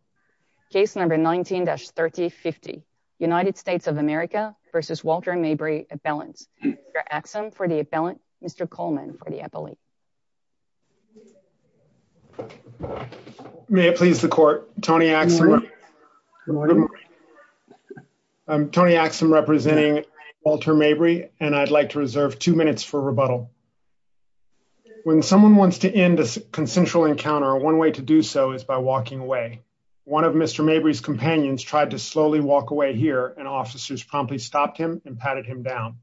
v. Walter Mabry. Case number 19-3050. United States of America v. Walter Mabry appellant. Mr. Axum for the appellant. Mr. Coleman for the appellate. May it please the court. Tony Axum. Good morning. I'm Tony Axum representing Walter Mabry and I'd like to reserve two minutes for rebuttal. When someone wants to end a consensual encounter, one way to do so is by walking away. One of Mr. Mabry's companions tried to slowly walk away here and officers promptly stopped him and patted him down.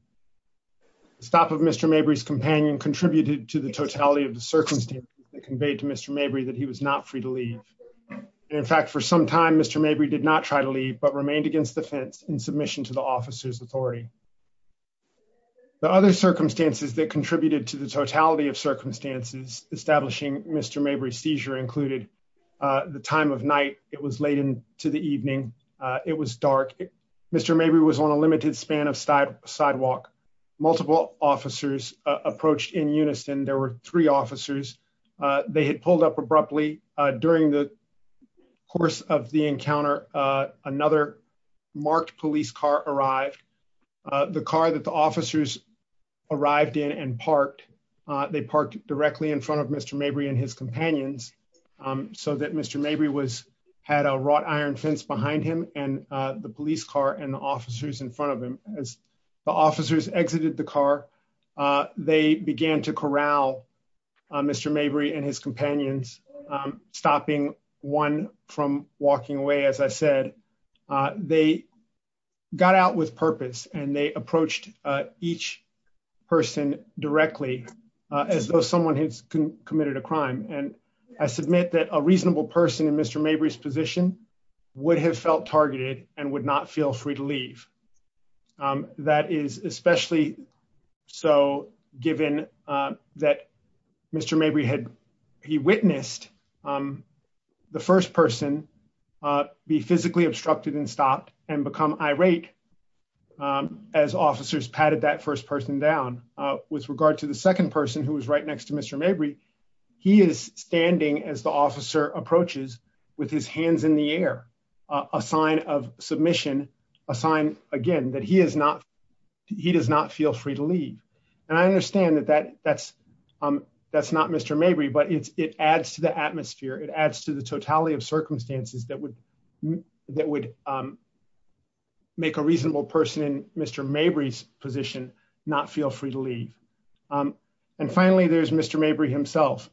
The stop of Mr. Mabry's companion contributed to the totality of the circumstances that conveyed to Mr. Mabry that he was not free to leave. In fact, for some time Mr. Mabry did not try to leave but remained against the fence in submission to the officer's authority. The other circumstances that contributed to the totality of circumstances establishing Mr. Mabry's seizure included the time of night. It was late into the evening. It was dark. Mr. Mabry was on a limited span of sidewalk. Multiple officers approached in unison. There were three officers. They had pulled up abruptly. During the course of the encounter, another marked police car arrived. The car that the officers arrived in and parked. They parked directly in front of Mr. Mabry and his companions so that Mr. Mabry had a wrought iron fence behind him and the police car and officers in front of him. As the officers exited the car, they began to corral Mr. Mabry and his companions, stopping one from walking away as I said. They got out with purpose and they approached each person directly as though someone had committed a crime. I submit that a reasonable person in Mr. Mabry's position would have felt targeted and would not feel free to leave. That is especially so given that Mr. Mabry had witnessed the first person be physically obstructed and stopped and become irate as officers patted that first person down. With regard to the second person who was right next to Mr. Mabry, he is standing as the officer approaches with his hands in the air, a sign of submission, a sign again that he does not feel free to leave. I understand that is not Mr. Mabry, but it adds to the atmosphere and totality of circumstances that would make a reasonable person in Mr. Mabry's position not feel free to leave. Finally, there is Mr. Mabry himself.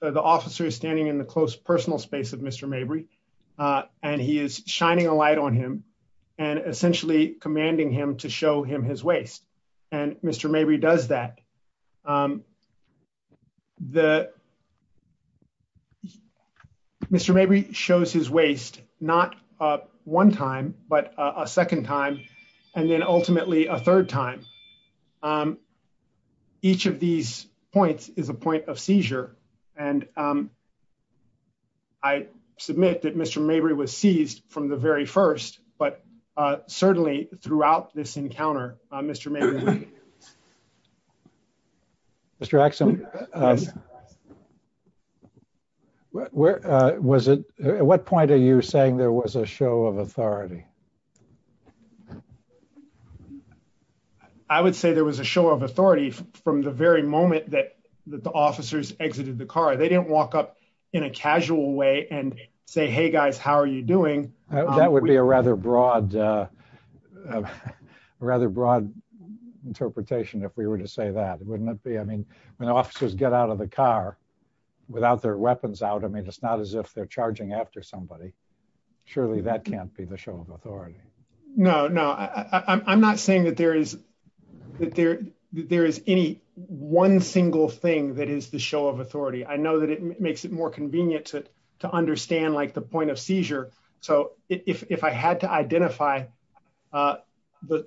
The officer is standing in the close personal space of Mr. Mabry and he is shining a light on him and essentially commanding him to show him his waist. Mr. Mabry does that. Mr. Mabry shows his waist not one time, but a second time and then ultimately a third time. Each of these points is a point of seizure and I submit that Mr. Mabry was seized from the very first, but certainly throughout this encounter, Mr. Mabry was seized. At what point are you saying there was a show of authority? I would say there was a show of authority from the very moment that the officers exited the car. They did not walk up in a casual way and say, hey, guys, how are you doing? That would be a rather broad interpretation if we were to say that, wouldn't it be? I mean, when officers get out of the car without their weapons out, I mean, it's not as if they're charging after somebody. Surely that can't be the show of authority. No, no, I'm not saying that there is any one single thing that is the show of authority. I know that it makes it more convenient to understand like the point of seizure. So if I had to identify the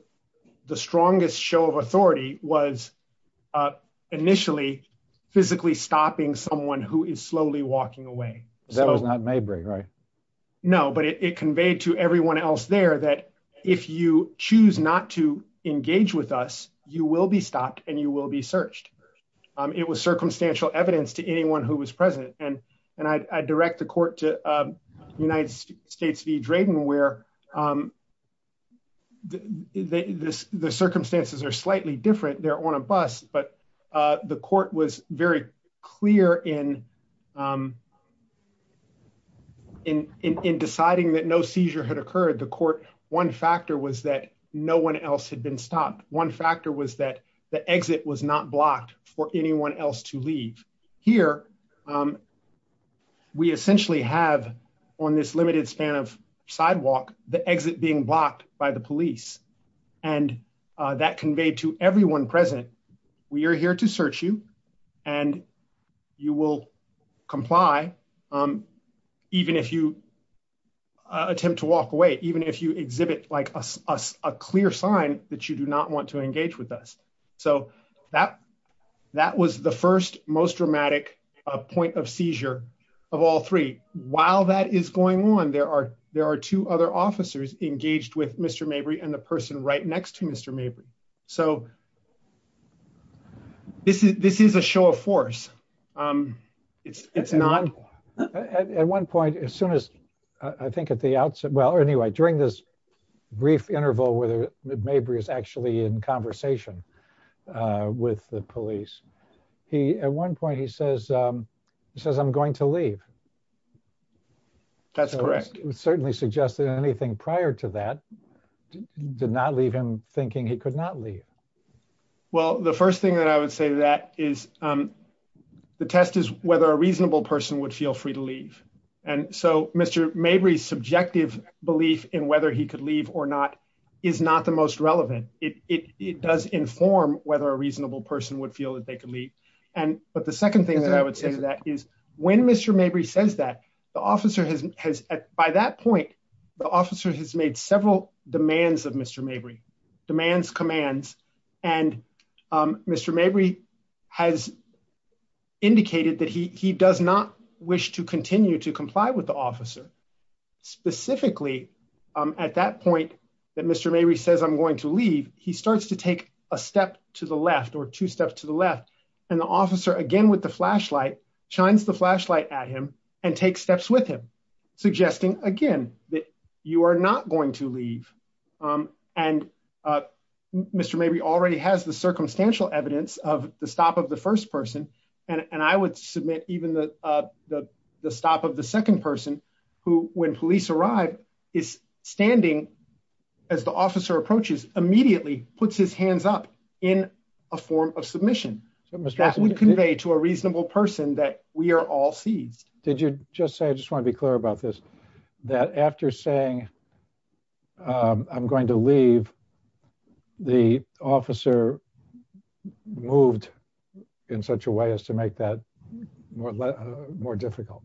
strongest show of authority was initially physically stopping someone who is slowly walking away. That was not Mabry, right? No, but it conveyed to everyone else there that if you choose not to engage with us, you will be stopped and you will be searched. It was circumstantial evidence to anyone who was present. And I direct the court to United States v. Drayton where the circumstances are slightly different. They're on a bus, but the court was very clear in deciding that no seizure had occurred. The court, one factor was that no one else had been stopped. One factor was that the exit was not blocked for anyone else to leave. Here, we essentially have on this limited span of sidewalk, the exit being blocked by the police and that conveyed to everyone present. We are here to search you and you will comply even if you attempt to walk away, even if you exhibit like a clear sign that you do not want to engage with us. So that was the first most dramatic point of seizure of all three. While that is going on, there are two other officers engaged with Mr. Mabry and the person right next to Mr. Mabry. So this is a show of force. It's not. At one point, as soon as I think at the outset, well, anyway, during this brief interval with Mabry is actually in conversation with the police, he at one point he says, he says, I'm going to leave. That's correct. Certainly suggested anything prior to that did not leave him thinking he could not leave. Well, the first thing that I would say that is the test is whether a reasonable person would feel free to leave. And so, Mr. Mabry subjective belief in whether he could leave or not is not the most relevant, it does inform whether a reasonable person would feel that they can leave. And, but the second thing that I would say that is when Mr. Mabry says that the officer has has at by that point, the officer has made several demands of Mr. Mabry demands commands and Mr. Mabry has indicated that he does not wish to continue to comply with the officer. Specifically, at that point that Mr. Mabry says I'm going to leave, he starts to take a step to the left or two steps to the left, and the officer again with the flashlight shines the flashlight at him and take steps with him, suggesting, again, that you are not going to leave. And Mr. Mabry already has the circumstantial evidence of the stop of the first person, and I would submit, even the, the, the stop of the second person who when police arrive is standing as the officer approaches immediately puts his hands up in a form of submission. That would convey to a reasonable person that we are all seized. Did you just say I just want to be clear about this, that after saying, I'm going to leave the officer moved in such a way as to make that more difficult.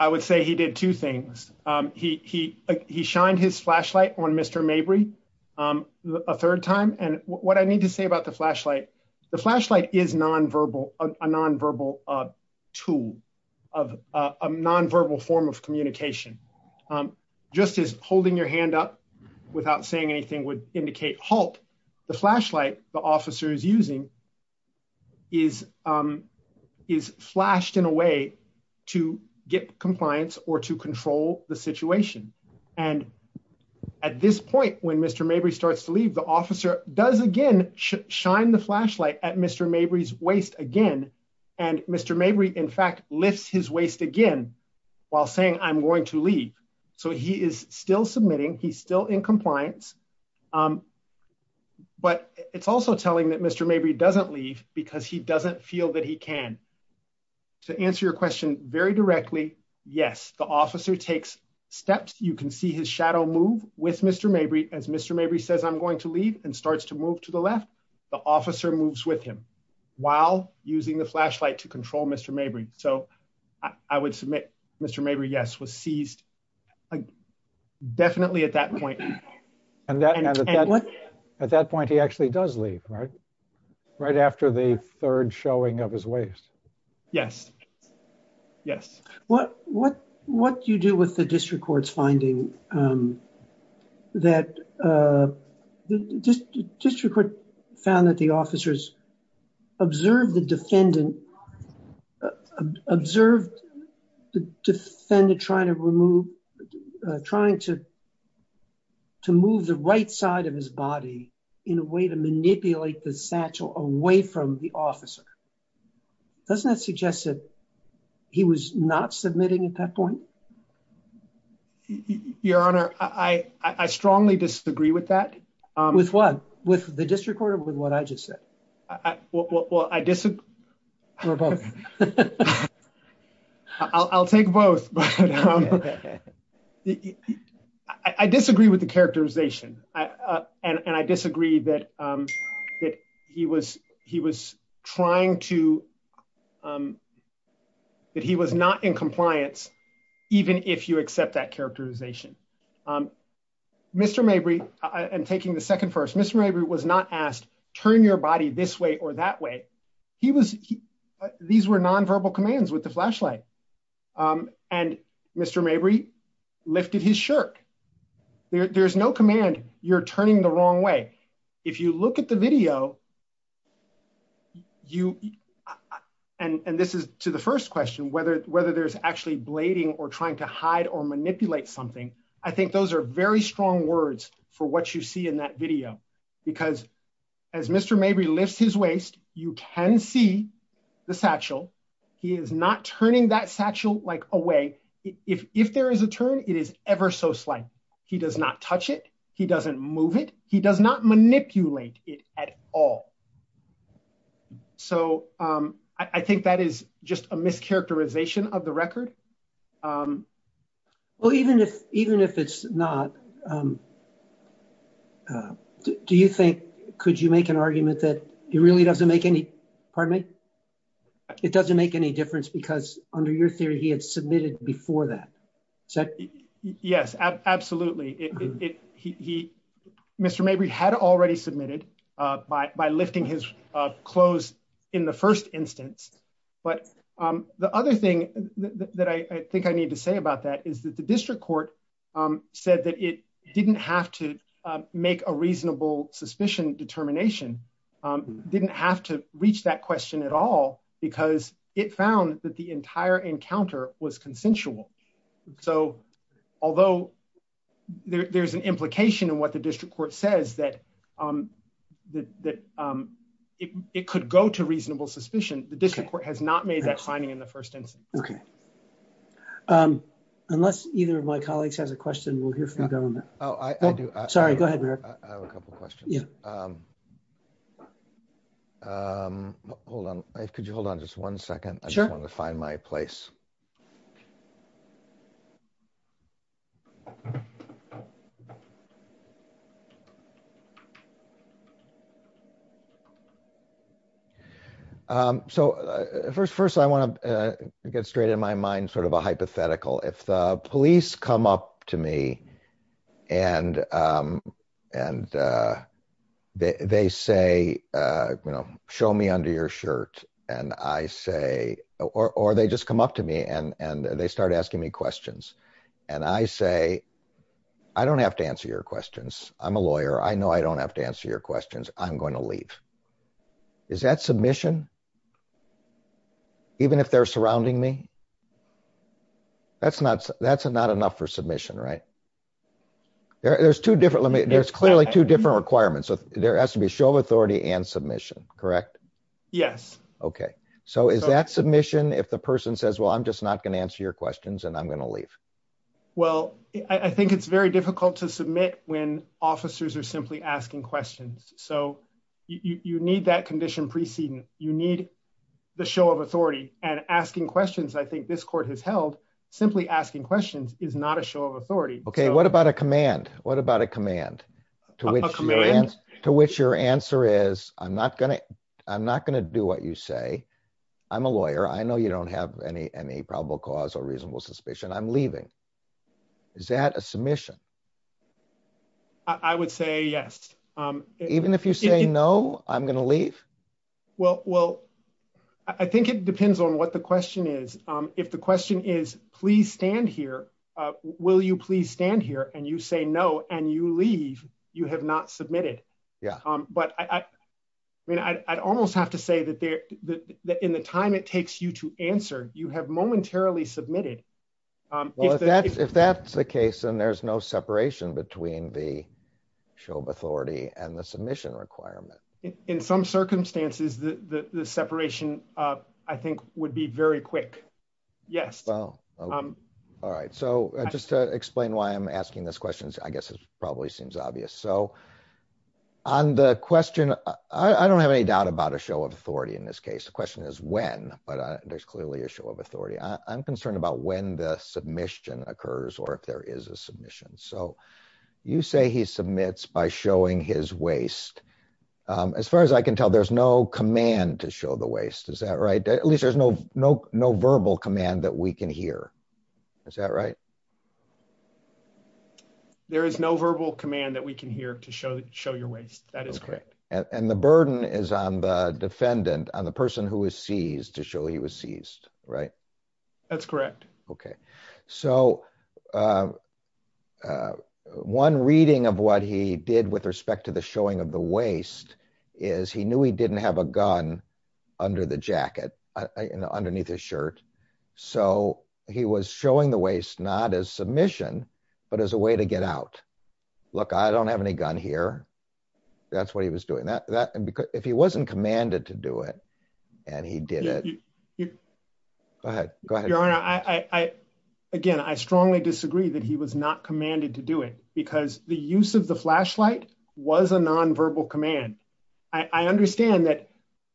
I would say he did two things. He, he, he shined his flashlight on Mr. Mabry, a third time and what I need to say about the flashlight. The flashlight is nonverbal, a nonverbal tool of a nonverbal form of communication. Just as holding your hand up without saying anything would indicate hope the flashlight, the officers using is, is flashed in a way to get compliance or to control the situation. And at this point when Mr. Mabry starts to leave the officer does again shine the flashlight at Mr. Mabry's waist again. And Mr. Mabry in fact lifts his waist again while saying I'm going to leave. So he is still submitting he's still in compliance. But it's also telling that Mr. Mabry doesn't leave because he doesn't feel that he can. To answer your question very directly. Yes, the officer takes steps, you can see his shadow move with Mr. Mabry as Mr. Mabry says I'm going to leave and starts to move to the left. The officer moves with him while using the flashlight to control Mr. Mabry, so I would submit Mr. Mabry yes was seized. Definitely at that point. At that point, he actually does leave right right after the third showing of his waist. Yes. Yes. What, what, what do you do with the district courts finding That District Court found that the officers observed the defendant Observed the defendant trying to remove trying to To move the right side of his body in a way to manipulate the satchel away from the officer. Doesn't that suggest that he was not submitting at that point. Your Honor, I, I strongly disagree with that. With what with the district court with what I just said. Well, I disagree. I'll take both I disagree with the characterization and I disagree that that he was he was trying to That he was not in compliance, even if you accept that characterization. Mr. Mabry and taking the second first Mr. Mabry was not asked, turn your body this way or that way. He was. These were nonverbal commands with the flashlight. And Mr. Mabry lifted his shirt. There's no command you're turning the wrong way. If you look at the video. And this is to the first question whether whether there's actually blading or trying to hide or manipulate something. I think those are very strong words for what you see in that video because As Mr. Mabry lifts his waist. You can see the satchel. He is not turning that satchel like away if if there is a turn it is ever so slight. He does not touch it. He doesn't move it. He does not manipulate it at all. So I think that is just a mischaracterization of the record. Well, even if even if it's not Do you think, could you make an argument that he really doesn't make any pardon me. It doesn't make any difference because under your theory, he had submitted before that. Yes, absolutely. It he Mr. Maybe had already submitted by by lifting his clothes in the first instance, but the other thing that I think I need to say about that is that the district court. Said that it didn't have to make a reasonable suspicion determination didn't have to reach that question at all because it found that the entire encounter was consensual. So although there's an implication and what the district court says that That It could go to reasonable suspicion. The district court has not made that finding in the first instance. Okay. Unless either of my colleagues has a question. We'll hear from government. Oh, I do. Sorry. Go ahead. A couple questions. Yeah. Hold on. Could you hold on just one second. I just want to find my place. So first, first, I want to get straight in my mind, sort of a hypothetical if the police come up to me and and They say, you know, show me under your shirt and I say, or they just come up to me and and they start asking me questions and I say, I don't have to answer your questions. I'm a lawyer. I know I don't have to answer your questions. I'm going to leave. Is that submission. Even if they're surrounding me That's not that's not enough for submission right There's two different limit. There's clearly two different requirements. So there has to be a show of authority and submission. Correct. Yes. Okay. So is that submission. If the person says, well, I'm just not going to answer your questions and I'm going to leave. Well, I think it's very difficult to submit when officers are simply asking questions. So you need that condition preceding you need The show of authority and asking questions. I think this court has held simply asking questions is not a show of authority. Okay. What about a command. What about a command. To which to which your answer is, I'm not going to, I'm not going to do what you say I'm a lawyer. I know you don't have any any probable cause or reasonable suspicion. I'm leaving. Is that a submission. I would say yes. Even if you say no, I'm going to leave. Well, well, I think it depends on what the question is, if the question is, please stand here. Will you please stand here and you say no, and you leave. You have not submitted. Yeah, but I mean, I almost have to say that there that in the time it takes you to answer you have momentarily submitted If that's if that's the case, and there's no separation between the show of authority and the submission requirement. In some circumstances, the separation. I think would be very quick. Yes. All right. So just to explain why I'm asking this questions. I guess it's probably seems obvious. So On the question. I don't have any doubt about a show of authority in this case. The question is when but there's clearly a show of authority. I'm concerned about when the submission occurs or if there is a submission. So you say he submits by showing his waist. As far as I can tell, there's no command to show the waist. Is that right, at least there's no no no verbal command that we can hear. Is that right, There is no verbal command that we can hear to show show your waist. That is correct. And the burden is on the defendant on the person who is seized to show he was seized. Right. That's correct. Okay, so One reading of what he did with respect to the showing of the waist is he knew he didn't have a gun under the jacket underneath his shirt. So he was showing the waist, not as submission, but as a way to get out. Look, I don't have any gun here. That's what he was doing that and because if he wasn't commanded to do it and he did it. Go ahead. Go ahead. I again I strongly disagree that he was not commanded to do it because the use of the flashlight was a nonverbal command. I understand that.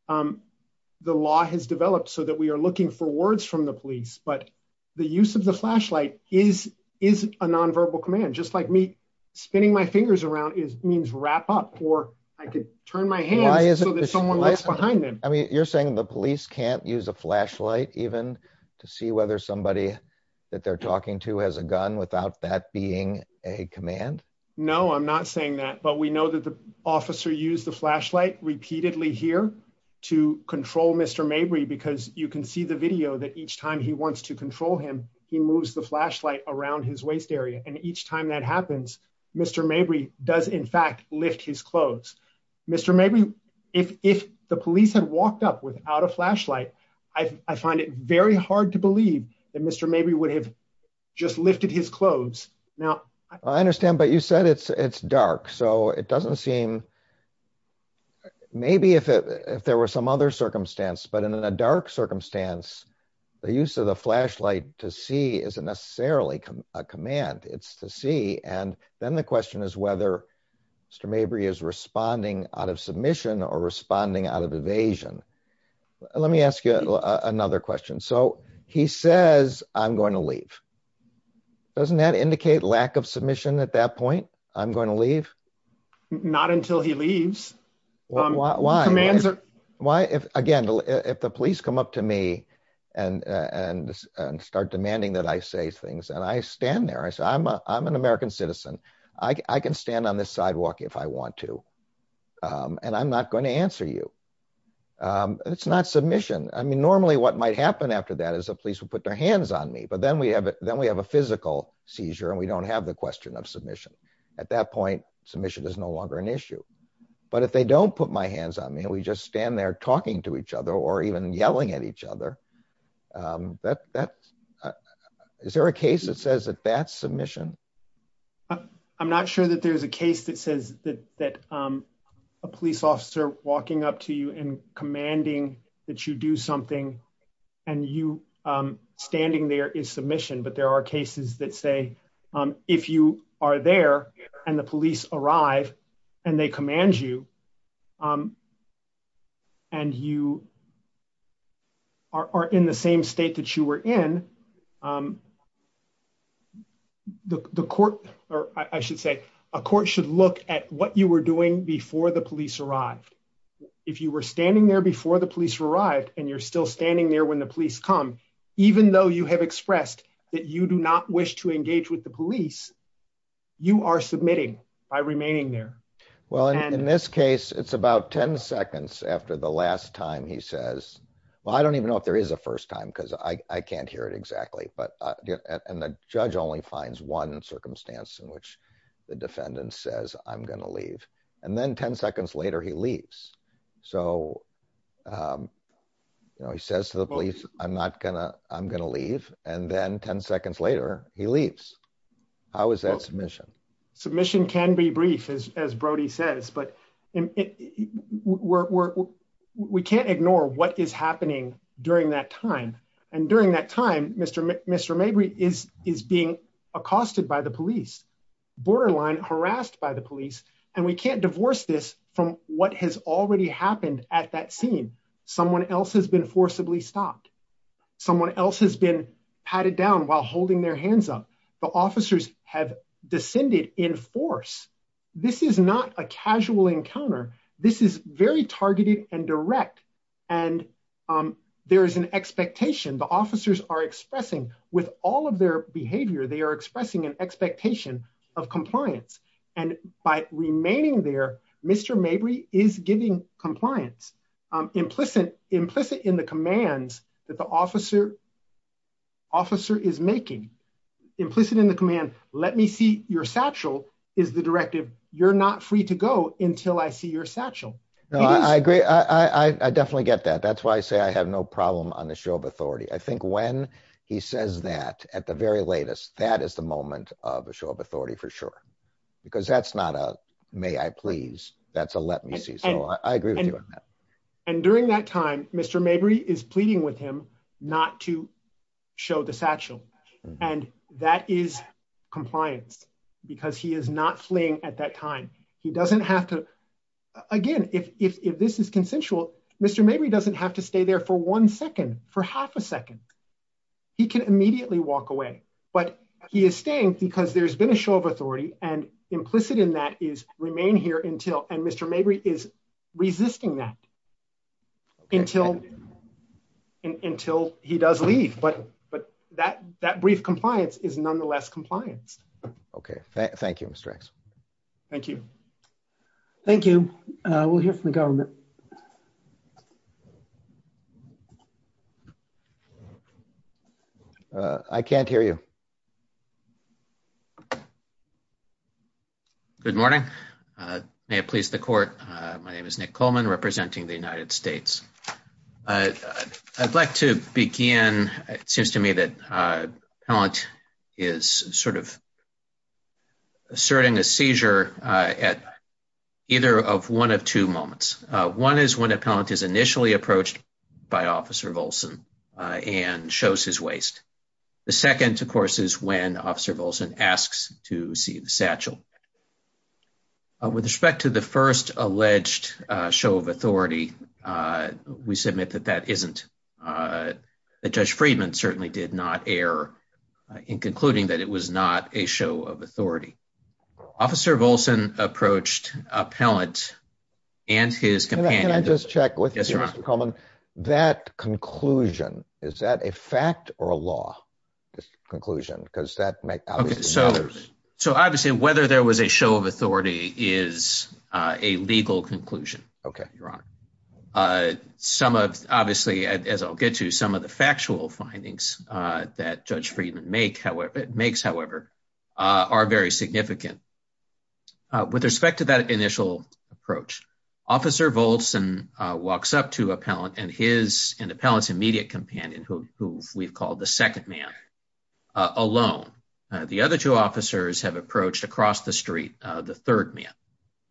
The law has developed so that we are looking for words from the police, but the use of the flashlight is is a nonverbal command, just like me spinning my fingers around is means wrap up or I could turn my hand. Behind him. I mean, you're saying the police can't use a flashlight, even to see whether somebody that they're talking to has a gun without that being a command. No, I'm not saying that. But we know that the officer use the flashlight repeatedly here to control Mr. Mabry because you can see the video that each time he wants to control him. He moves the flashlight around his waist area. And each time that happens, Mr. Mabry does in fact lift his clothes. Mr. Maybe if if the police had walked up without a flashlight. I find it very hard to believe that Mr. Maybe would have just lifted his clothes. Now, I understand. But you said it's it's dark. So it doesn't seem Maybe if it if there were some other circumstance, but in a dark circumstance, the use of the flashlight to see isn't necessarily a command. It's to see. And then the question is whether Mr. Mabry is responding out of submission or responding out of evasion. Let me ask you another question. So he says, I'm going to leave Doesn't that indicate lack of submission at that point? I'm going to leave. Not until he leaves. Why? Why? Why? If, again, if the police come up to me and and start demanding that I say things and I stand there. I said, I'm, I'm an American citizen. I can stand on the sidewalk if I want to. And I'm not going to answer you. It's not submission. I mean, normally what might happen after that is a police would put their hands on me. But then we have it. Then we have a physical seizure and we don't have the question of submission. At that point, submission is no longer an issue. But if they don't put my hands on me, we just stand there talking to each other or even yelling at each other. That that is there a case that says that that submission. I'm not sure that there's a case that says that that a police officer walking up to you and commanding that you do something and you standing there is submission. But there are cases that say if you are there and the police arrive and they command you. And you. Are in the same state that you were in. The court, or I should say, a court should look at what you were doing before the police arrived. If you were standing there before the police arrived and you're still standing there when the police come, even though you have expressed that you do not wish to engage with the police, you are submitting by remaining there. Well, in this case, it's about 10 seconds after the last time he says, Well, I don't even know if there is a first time because I can't hear it exactly. But, and the judge only finds one circumstance in which the defendant says, I'm going to leave and then 10 seconds later, he leaves so He says to the police. I'm not gonna I'm gonna leave and then 10 seconds later, he leaves. How is that submission. Submission can be brief as as Brody says, but we're, we can't ignore what is happening during that time. And during that time, Mr. Mr maybe is is being accosted by the police borderline harassed by the police, and we can't divorce this from what has already happened at that scene. Someone else has been forcibly stopped. Someone else has been patted down while holding their hands up. The officers have descended in force. This is not a casual encounter. This is very targeted and direct and there is an expectation the officers are expressing with all of their behavior they are expressing an expectation of compliance and by remaining there. Mr. Maybe is giving compliance implicit implicit in the commands that the officer officer is making implicit in the command. Let me see your satchel is the directive, you're not free to go until I see your satchel. I agree. I definitely get that. That's why I say I have no problem on the show of authority. I think when he says that at the very latest, that is the moment of a show of authority for sure, because that's not a may I please, that's a let me see. So I agree with you on that. And during that time, Mr. Maybe is pleading with him, not to show the satchel. And that is compliance, because he is not fleeing at that time, he doesn't have to. Again, if this is consensual, Mr. Maybe doesn't have to stay there for one second for half a second. He can immediately walk away, but he is staying because there's been a show of authority and implicit in that is remain here until and Mr. Maybe is resisting that until until he does leave but but that that brief compliance is nonetheless compliance. Okay, thank you. Thank you. Thank you. We'll hear from the government. I can't hear you. Good morning. Please the court. My name is Nick Coleman representing the United States. I'd like to begin, it seems to me that talent is sort of asserting a seizure at either of one of two moments. One is when a parent is initially approached by officer Wilson, and shows his waist. The second two courses when officer Wilson asks to see the satchel. With respect to the first alleged show of authority. We submit that that isn't a judge Friedman certainly did not air in concluding that it was not a show of authority. Officer Wilson approached a pellet, and his can I just check with you, Mr Coleman, that conclusion, is that a fact or a law. Conclusion, because that makes sense. So obviously whether there was a show of authority is a legal conclusion. Okay. Some of, obviously, as I'll get to some of the factual findings that judge Friedman make however it makes however are very significant. With respect to that initial approach. Officer volts and walks up to a pellet and his in the palace immediate companion who we've called the second man alone. The other two officers have approached across the street, the third man.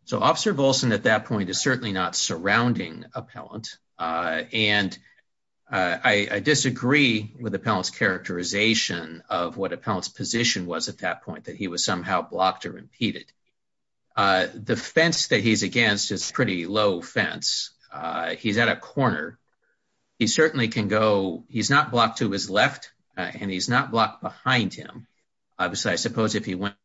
So officer Wilson at that point is certainly not surrounding a pellet. And I disagree with the palace characterization of what a palace position was at that point that he was somehow blocked or impeded the fence that he's against is pretty low fence. He's at a corner. He certainly can go, he's not blocked to his left, and he's not blocked behind him. Obviously, I suppose if he went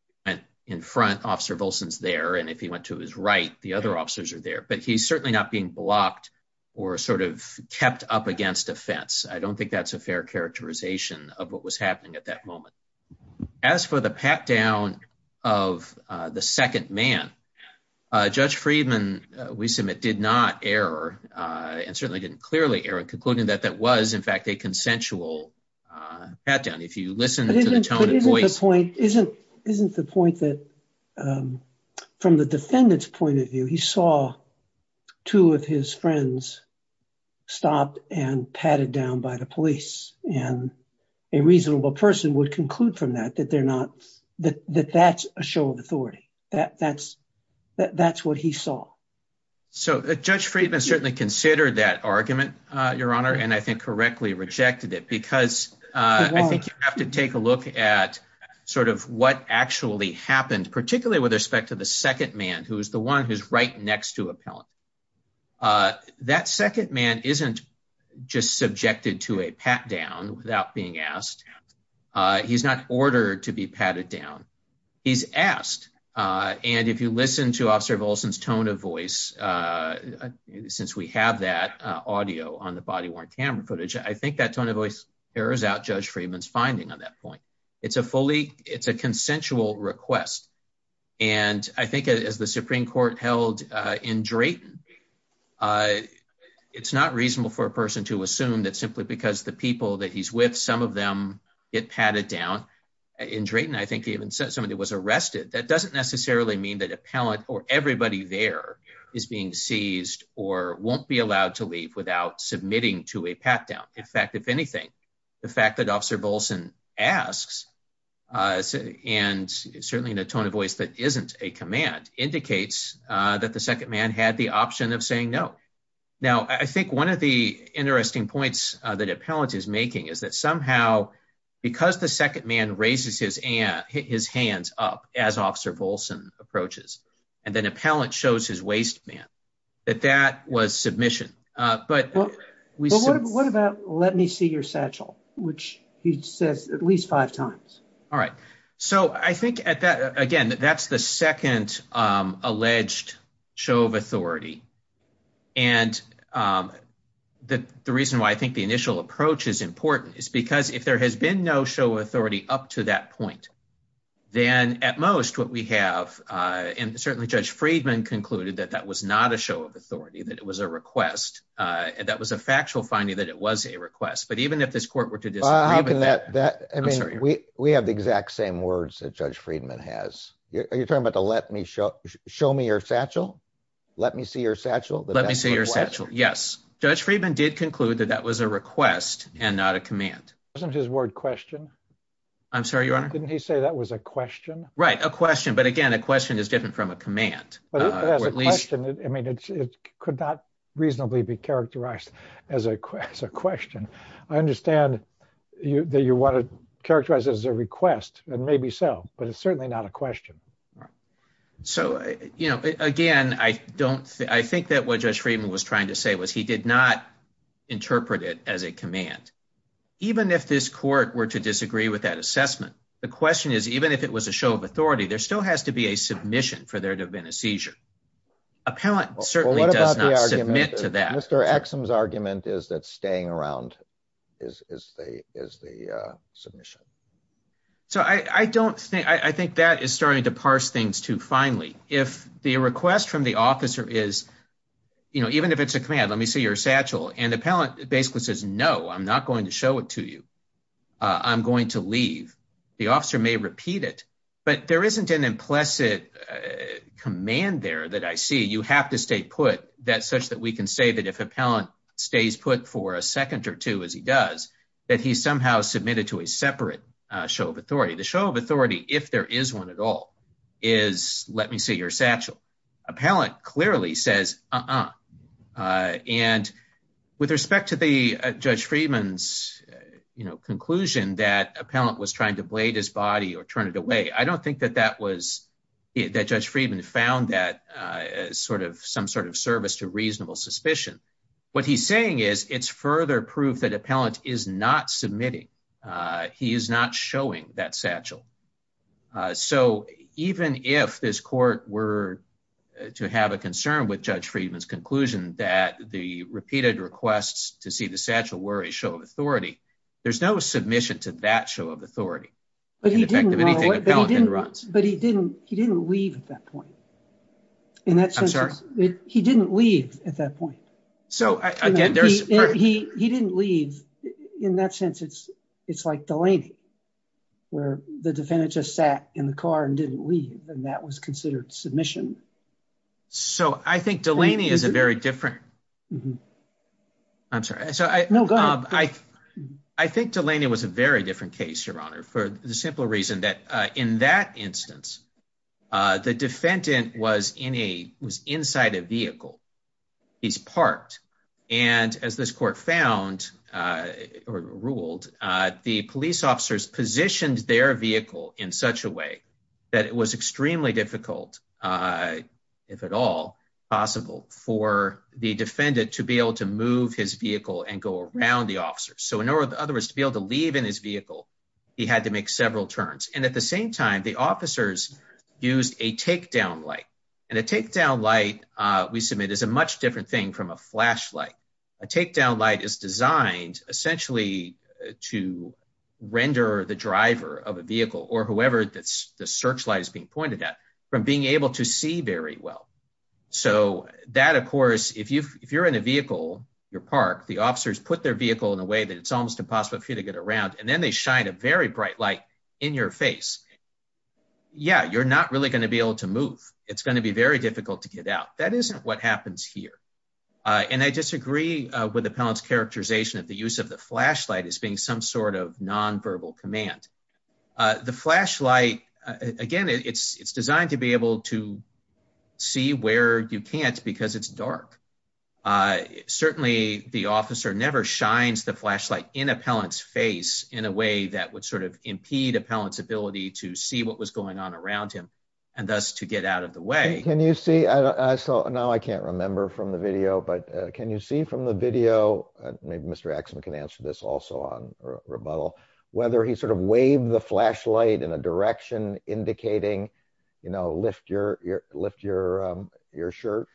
in front officer Wilson's there and if he went to his right, the other officers are there but he's certainly not being blocked or sort of kept up against a fence. I don't think that's a fair characterization of what was happening at that moment. As for the pat down of the second man. Judge Friedman, we submit did not error, and certainly didn't clearly error concluding that that was in fact a consensual pat down if you listen to the voice point isn't isn't the point that from the defendant's point of view, he saw two of his friends. Stopped and patted down by the police, and a reasonable person would conclude from that that they're not that that's a show of authority that that's that that's what he saw. So, Judge Friedman certainly consider that argument, Your Honor, and I think correctly rejected it because I think you have to take a look at sort of what actually happened particularly with respect to the second man who is the one who's right next to a pellet. That second man isn't just subjected to a pat down without being asked. He's not ordered to be patted down. He's asked. And if you listen to officer Wilson's tone of voice. Since we have that audio on the body worn camera footage I think that tone of voice errors out Judge Friedman's finding on that point. It's a fully, it's a consensual request. And I think as the Supreme Court held in Drayton. It's not reasonable for a person to assume that simply because the people that he's with some of them get patted down in Drayton I think even said somebody was arrested that doesn't necessarily mean that a pellet or everybody there is being seized, or won't be allowed to leave without submitting to a pat down. In fact, if anything, the fact that officer Bolson asks, and certainly in a tone of voice that isn't a command indicates that the second man had the option of saying no. Now I think one of the interesting points that appellant is making is that somehow, because the second man raises his and his hands up as officer Bolson approaches, and then appellant shows his waistband that that was submission. But what about let me see your satchel, which he says at least five times. All right. So I think at that again that that's the second alleged show of authority. And the reason why I think the initial approach is important is because if there has been no show authority up to that point, then at most what we have in certainly Judge Friedman concluded that that was not a show of authority that it was a request. And that was a factual finding that it was a request, but even if this court were to do that. I mean, we, we have the exact same words that Judge Friedman has, you're talking about to let me show, show me your satchel. Let me see your satchel. Let me see your satchel. Yes, Judge Friedman did conclude that that was a request, and not a command. Isn't his word question. I'm sorry, your honor. Didn't he say that was a question right a question but again a question is different from a command. I mean, it could not reasonably be characterized as a question. I understand you that you want to characterize as a request, and maybe so, but it's certainly not a question. So, you know, again, I don't think I think that what Judge Friedman was trying to say was he did not interpret it as a command. Even if this court were to disagree with that assessment. The question is, even if it was a show of authority there still has to be a submission for there to have been a seizure appellant certainly does not submit to that Mr axioms argument is that staying around is the, is the submission. So I don't think I think that is starting to parse things to finally, if the request from the officer is, you know, even if it's a command let me see your satchel and appellant basically says no I'm not going to show it to you. I'm going to leave the officer may repeat it, but there isn't an implicit command there that I see you have to stay put that such that we can say that if appellant stays put for a second or two as he does that he somehow submitted to a separate show of authority the show of authority, if there is one at all, is, let me see your satchel appellant clearly says. And with respect to the judge Friedman's, you know, conclusion that appellant was trying to blade his body or turn it away I don't think that that was that judge Friedman found that sort of some sort of service to reasonable suspicion. What he's saying is it's further proof that appellant is not submitting. He is not showing that satchel. So, even if this court were to have a concern with judge Friedman's conclusion that the repeated requests to see the satchel were a show of authority. There's no submission to that show of authority. But he didn't, he didn't leave at that point. In that sense, he didn't leave at that point. So, again, he didn't leave. In that sense, it's, it's like Delaney, where the defendant just sat in the car and didn't leave, and that was considered submission. So I think Delaney is a very different. I'm sorry. So, I think Delaney was a very different case, Your Honor, for the simple reason that in that instance, the defendant was in a was inside a vehicle. He's parked. And as this court found or ruled, the police officers positioned their vehicle in such a way that it was extremely difficult. If at all possible for the defendant to be able to move his vehicle and go around the officer. So, in other words, to be able to leave in his vehicle. He had to make several turns. And at the same time, the officers used a takedown light and a takedown light, we submit is a much different thing from a flashlight. A takedown light is designed essentially to render the driver of a vehicle or whoever that's the searchlight is being pointed at from being able to see very well. So that, of course, if you if you're in a vehicle, you're parked, the officers put their vehicle in a way that it's almost impossible for you to get around and then they shine a very bright light in your face. Yeah, you're not really going to be able to move. It's going to be very difficult to get out. That isn't what happens here. And I disagree with the parents characterization of the use of the flashlight is being some sort of nonverbal command. The flashlight, again, it's it's designed to be able to see where you can't because it's dark. Certainly, the officer never shines the flashlight in appellant's face in a way that would sort of impede appellant's ability to see what was going on around him and thus to get out of the way. Can you see? So now I can't remember from the video, but can you see from the video? Maybe Mr. Axon can answer this also on rebuttal, whether he sort of waved the flashlight in a direction indicating, you know, lift your lift your your shirt.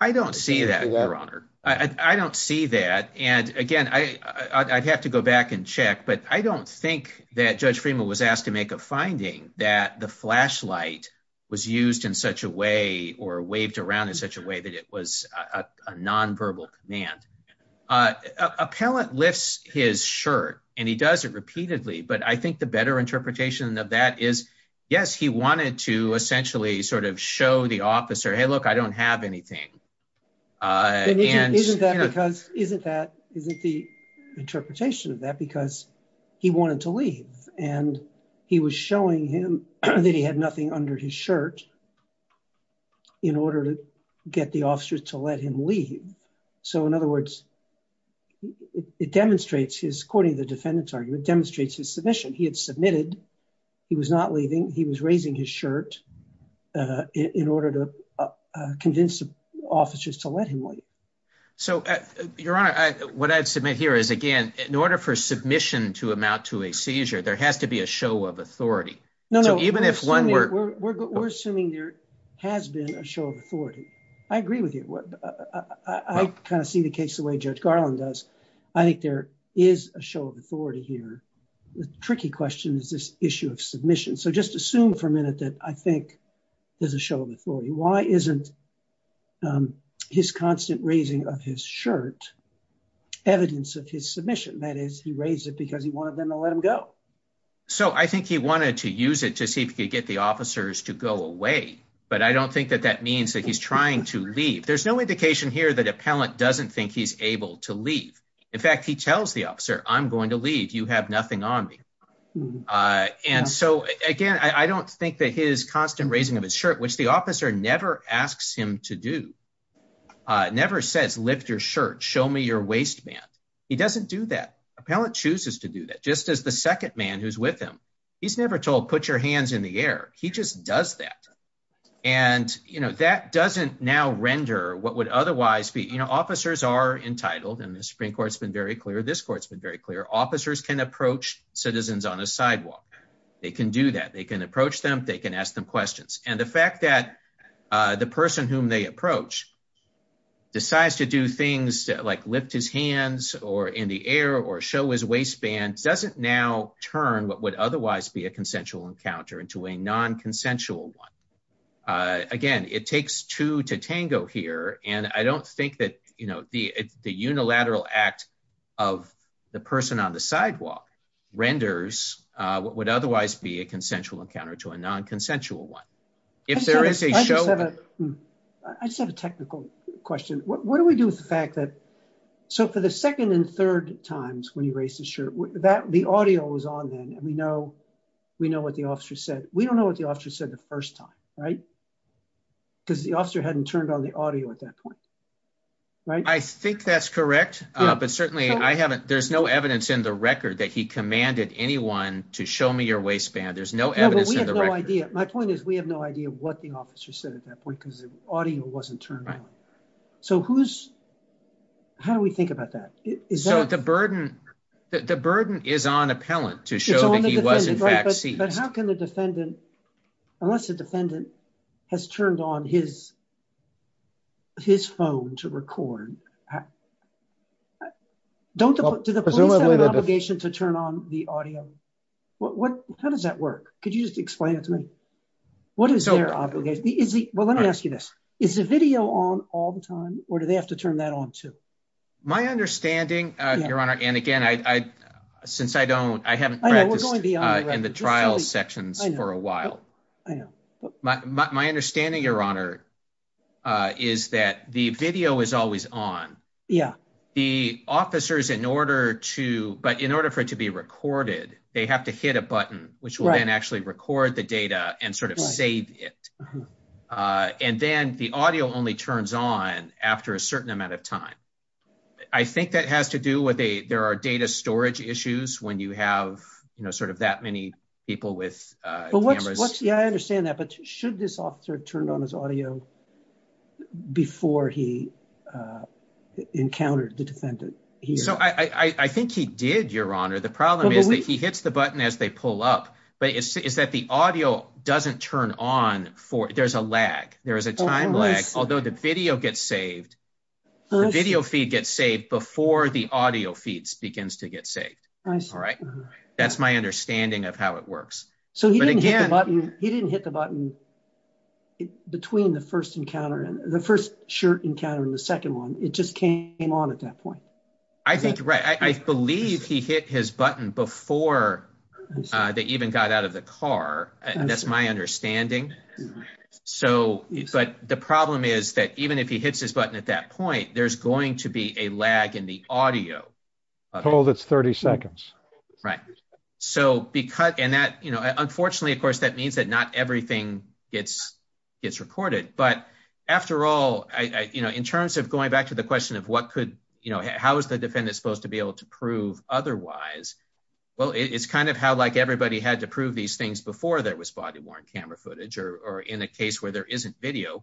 I don't see that, Your Honor. I don't see that. And again, I'd have to go back and check, but I don't think that Judge Freeman was asked to make a finding that the flashlight was used in such a way or waved around in such a way that it was a nonverbal command. Appellant lifts his shirt and he does it repeatedly. But I think the better interpretation of that is, yes, he wanted to essentially sort of show the officer, hey, look, I don't have anything. And isn't that because isn't that isn't the interpretation of that because he wanted to leave and he was showing him that he had nothing under his shirt. In order to get the officers to let him leave. So, in other words, it demonstrates his, according to the defendant's argument, demonstrates his submission. He had submitted. He was not leaving. He was raising his shirt in order to convince officers to let him leave. So, Your Honor, what I'd submit here is, again, in order for submission to amount to a seizure, there has to be a show of authority. We're assuming there has been a show of authority. I agree with you. I kind of see the case the way Judge Garland does. I think there is a show of authority here. The tricky question is this issue of submission. So just assume for a minute that I think there's a show of authority. Why isn't his constant raising of his shirt evidence of his submission? That is, he raised it because he wanted them to let him go. So I think he wanted to use it to see if he could get the officers to go away. But I don't think that that means that he's trying to leave. There's no indication here that appellant doesn't think he's able to leave. In fact, he tells the officer, I'm going to leave. You have nothing on me. And so, again, I don't think that his constant raising of his shirt, which the officer never asks him to do, never says, lift your shirt, show me your waistband. He doesn't do that. Appellant chooses to do that, just as the second man who's with him. He's never told, put your hands in the air. He just does that. And, you know, that doesn't now render what would otherwise be, you know, officers are entitled and the Supreme Court's been very clear. This court's been very clear. Officers can approach citizens on a sidewalk. They can do that. They can approach them. They can ask them questions. And the fact that the person whom they approach decides to do things like lift his hands or in the air or show his waistband doesn't now turn what would otherwise be a consensual encounter into a non-consensual one. Again, it takes two to tango here. And I don't think that, you know, the unilateral act of the person on the sidewalk renders what would otherwise be a consensual encounter to a non-consensual one. I just have a technical question. What do we do with the fact that, so for the second and third times when he raised his shirt, the audio was on then and we know what the officer said. We don't know what the officer said the first time, right? Because the officer hadn't turned on the audio at that point. I think that's correct. But certainly I haven't, there's no evidence in the record that he commanded anyone to show me your waistband. There's no evidence in the record. My point is we have no idea what the officer said at that point because the audio wasn't turned on. So who's, how do we think about that? So the burden is on appellant to show that he was in fact seized. But how can the defendant, unless the defendant has turned on his phone to record, do the police have an obligation to turn on the audio? How does that work? Could you just explain it to me? What is their obligation? Well, let me ask you this. Is the video on all the time or do they have to turn that on too? My understanding, Your Honor, and again, since I don't, I haven't practiced in the trial sections for a while. My understanding, Your Honor, is that the video is always on. The officers, in order to, but in order for it to be recorded, they have to hit a button, which will then actually record the data and sort of save it. And then the audio only turns on after a certain amount of time. I think that has to do with a there are data storage issues when you have, you know, sort of that many people with cameras. Yeah, I understand that. But should this officer turn on his audio before he encountered the defendant? So I think he did, Your Honor. The problem is that he hits the button as they pull up. But is that the audio doesn't turn on for there's a lag. There is a time lag. Although the video gets saved, the video feed gets saved before the audio feeds begins to get saved. All right. That's my understanding of how it works. So he didn't hit the button between the first encounter and the first shirt encounter and the second one. It just came on at that point. I think you're right. I believe he hit his button before they even got out of the car. That's my understanding. So, but the problem is that even if he hits his button at that point, there's going to be a lag in the audio. Told it's 30 seconds. Right. So because and that, you know, unfortunately, of course, that means that not everything gets gets recorded. But after all, you know, in terms of going back to the question of what could you know, how is the defendant supposed to be able to prove otherwise? Well, it's kind of how like everybody had to prove these things before there was body worn camera footage or in a case where there isn't video.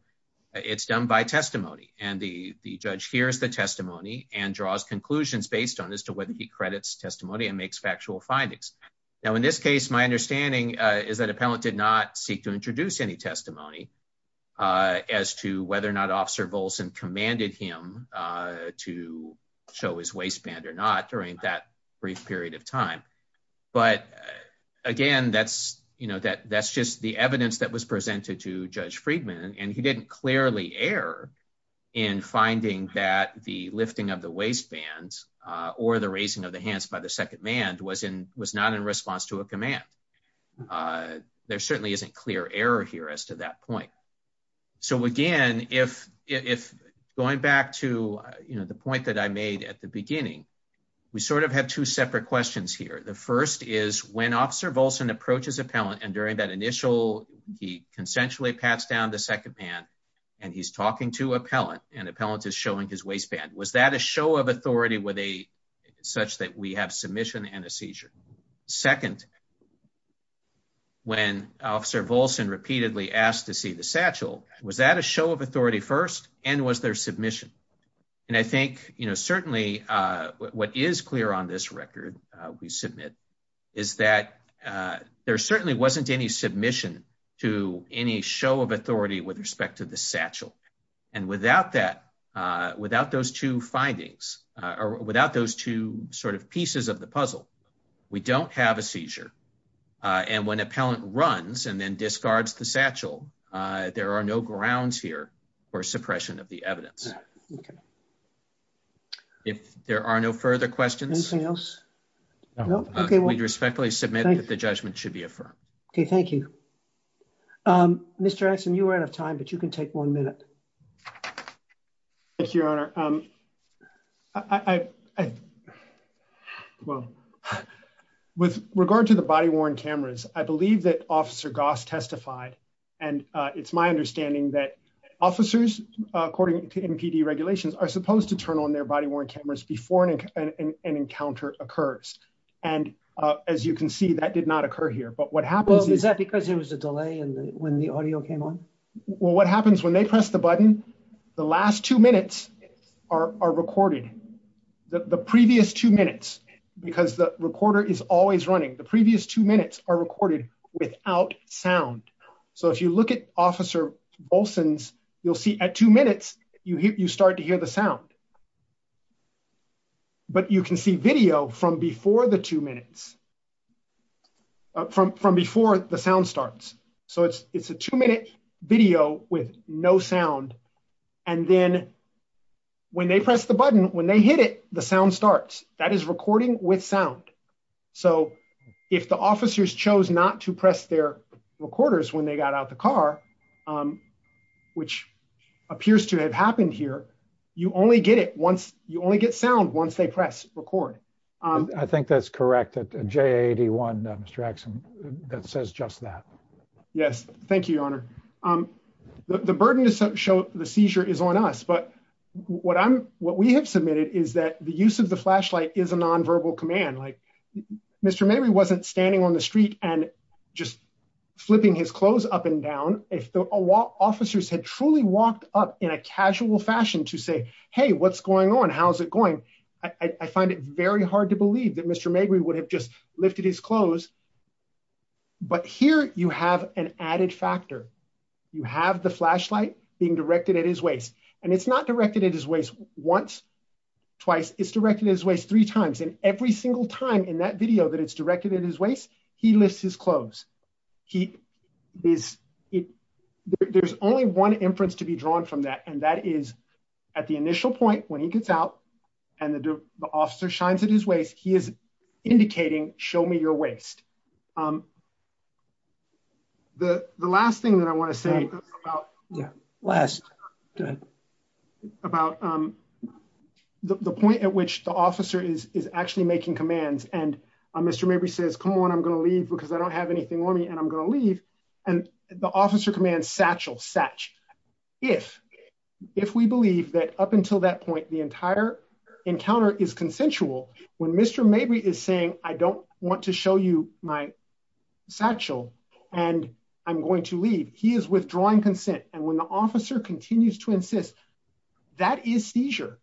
It's done by testimony and the judge hears the testimony and draws conclusions based on as to whether he credits testimony and makes factual findings. Now, in this case, my understanding is that appellant did not seek to introduce any testimony as to whether or not Officer Volson commanded him to show his waistband or not during that brief period of time. But again, that's you know, that that's just the evidence that was presented to Judge Friedman. And he didn't clearly err in finding that the lifting of the waistbands or the raising of the hands by the second man was in was not in response to a command. There certainly isn't clear error here as to that point. So again, if if going back to the point that I made at the beginning, we sort of have two separate questions here. The first is when Officer Volson approaches appellant and during that initial he consensually pats down the second man and he's talking to appellant and appellant is showing his waistband. Was that a show of authority with a such that we have submission and a seizure? Second, when Officer Volson repeatedly asked to see the satchel, was that a show of authority first and was there submission? And I think, you know, certainly what is clear on this record we submit is that there certainly wasn't any submission to any show of authority with respect to the satchel. And without that, without those two findings or without those two sort of pieces of the puzzle, we don't have a seizure. And when appellant runs and then discards the satchel, there are no grounds here for suppression of the evidence. OK. If there are no further questions. Anything else? No. OK. We respectfully submit that the judgment should be affirmed. OK, thank you. Mr. Anson, you are out of time, but you can take one minute. Thank you, Your Honor. Well, with regard to the body worn cameras, I believe that Officer Goss testified. And it's my understanding that officers, according to NPD regulations, are supposed to turn on their body worn cameras before an encounter occurs. And as you can see, that did not occur here. But what happens is that because there was a delay when the audio came on. Well, what happens when they press the button? The last two minutes are recorded. The previous two minutes, because the recorder is always running, the previous two minutes are recorded without sound. So if you look at Officer Olsen's, you'll see at two minutes you start to hear the sound. But you can see video from before the two minutes, from before the sound starts. So it's a two minute video with no sound. And then when they press the button, when they hit it, the sound starts. That is recording with sound. So if the officers chose not to press their recorders when they got out the car, which appears to have happened here, you only get it once. You only get sound once they press record. I think that's correct. J81, Mr. Axsom, that says just that. Yes. Thank you, Your Honor. The burden to show the seizure is on us. But what I'm what we have submitted is that the use of the flashlight is a nonverbal command. Like Mr. Mabry wasn't standing on the street and just flipping his clothes up and down. If the officers had truly walked up in a casual fashion to say, hey, what's going on? How's it going? I find it very hard to believe that Mr. Mabry would have just lifted his clothes. But here you have an added factor. You have the flashlight being directed at his waist and it's not directed at his waist once, twice. It's directed at his waist three times. And every single time in that video that it's directed at his waist, he lifts his clothes. There's only one inference to be drawn from that. And that is at the initial point when he gets out and the officer shines at his waist, he is indicating, show me your waist. The last thing that I want to say about the point at which the officer is actually making commands and Mr. Mabry says, come on, I'm going to leave because I don't have anything on me and I'm going to leave. And the officer commands, satchel, satch. If we believe that up until that point, the entire encounter is consensual, when Mr. Mabry is saying, I don't want to show you my satchel and I'm going to leave. He is withdrawing consent. And when the officer continues to insist, that is seizure.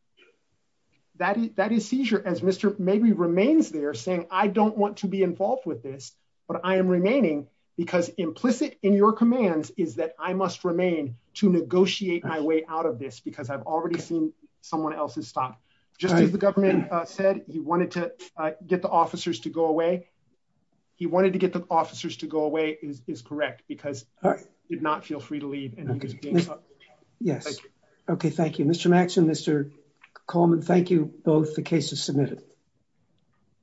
That is seizure as Mr. Mabry remains there saying, I don't want to be involved with this, but I am remaining because implicit in your commands is that I must remain to negotiate my way out of this because I've already seen someone else's stop. Just as the government said he wanted to get the officers to go away. He wanted to get the officers to go away is correct because he did not feel free to leave. Yes. Okay. Thank you, Mr. Max and Mr. Coleman. Thank you. Both the cases submitted.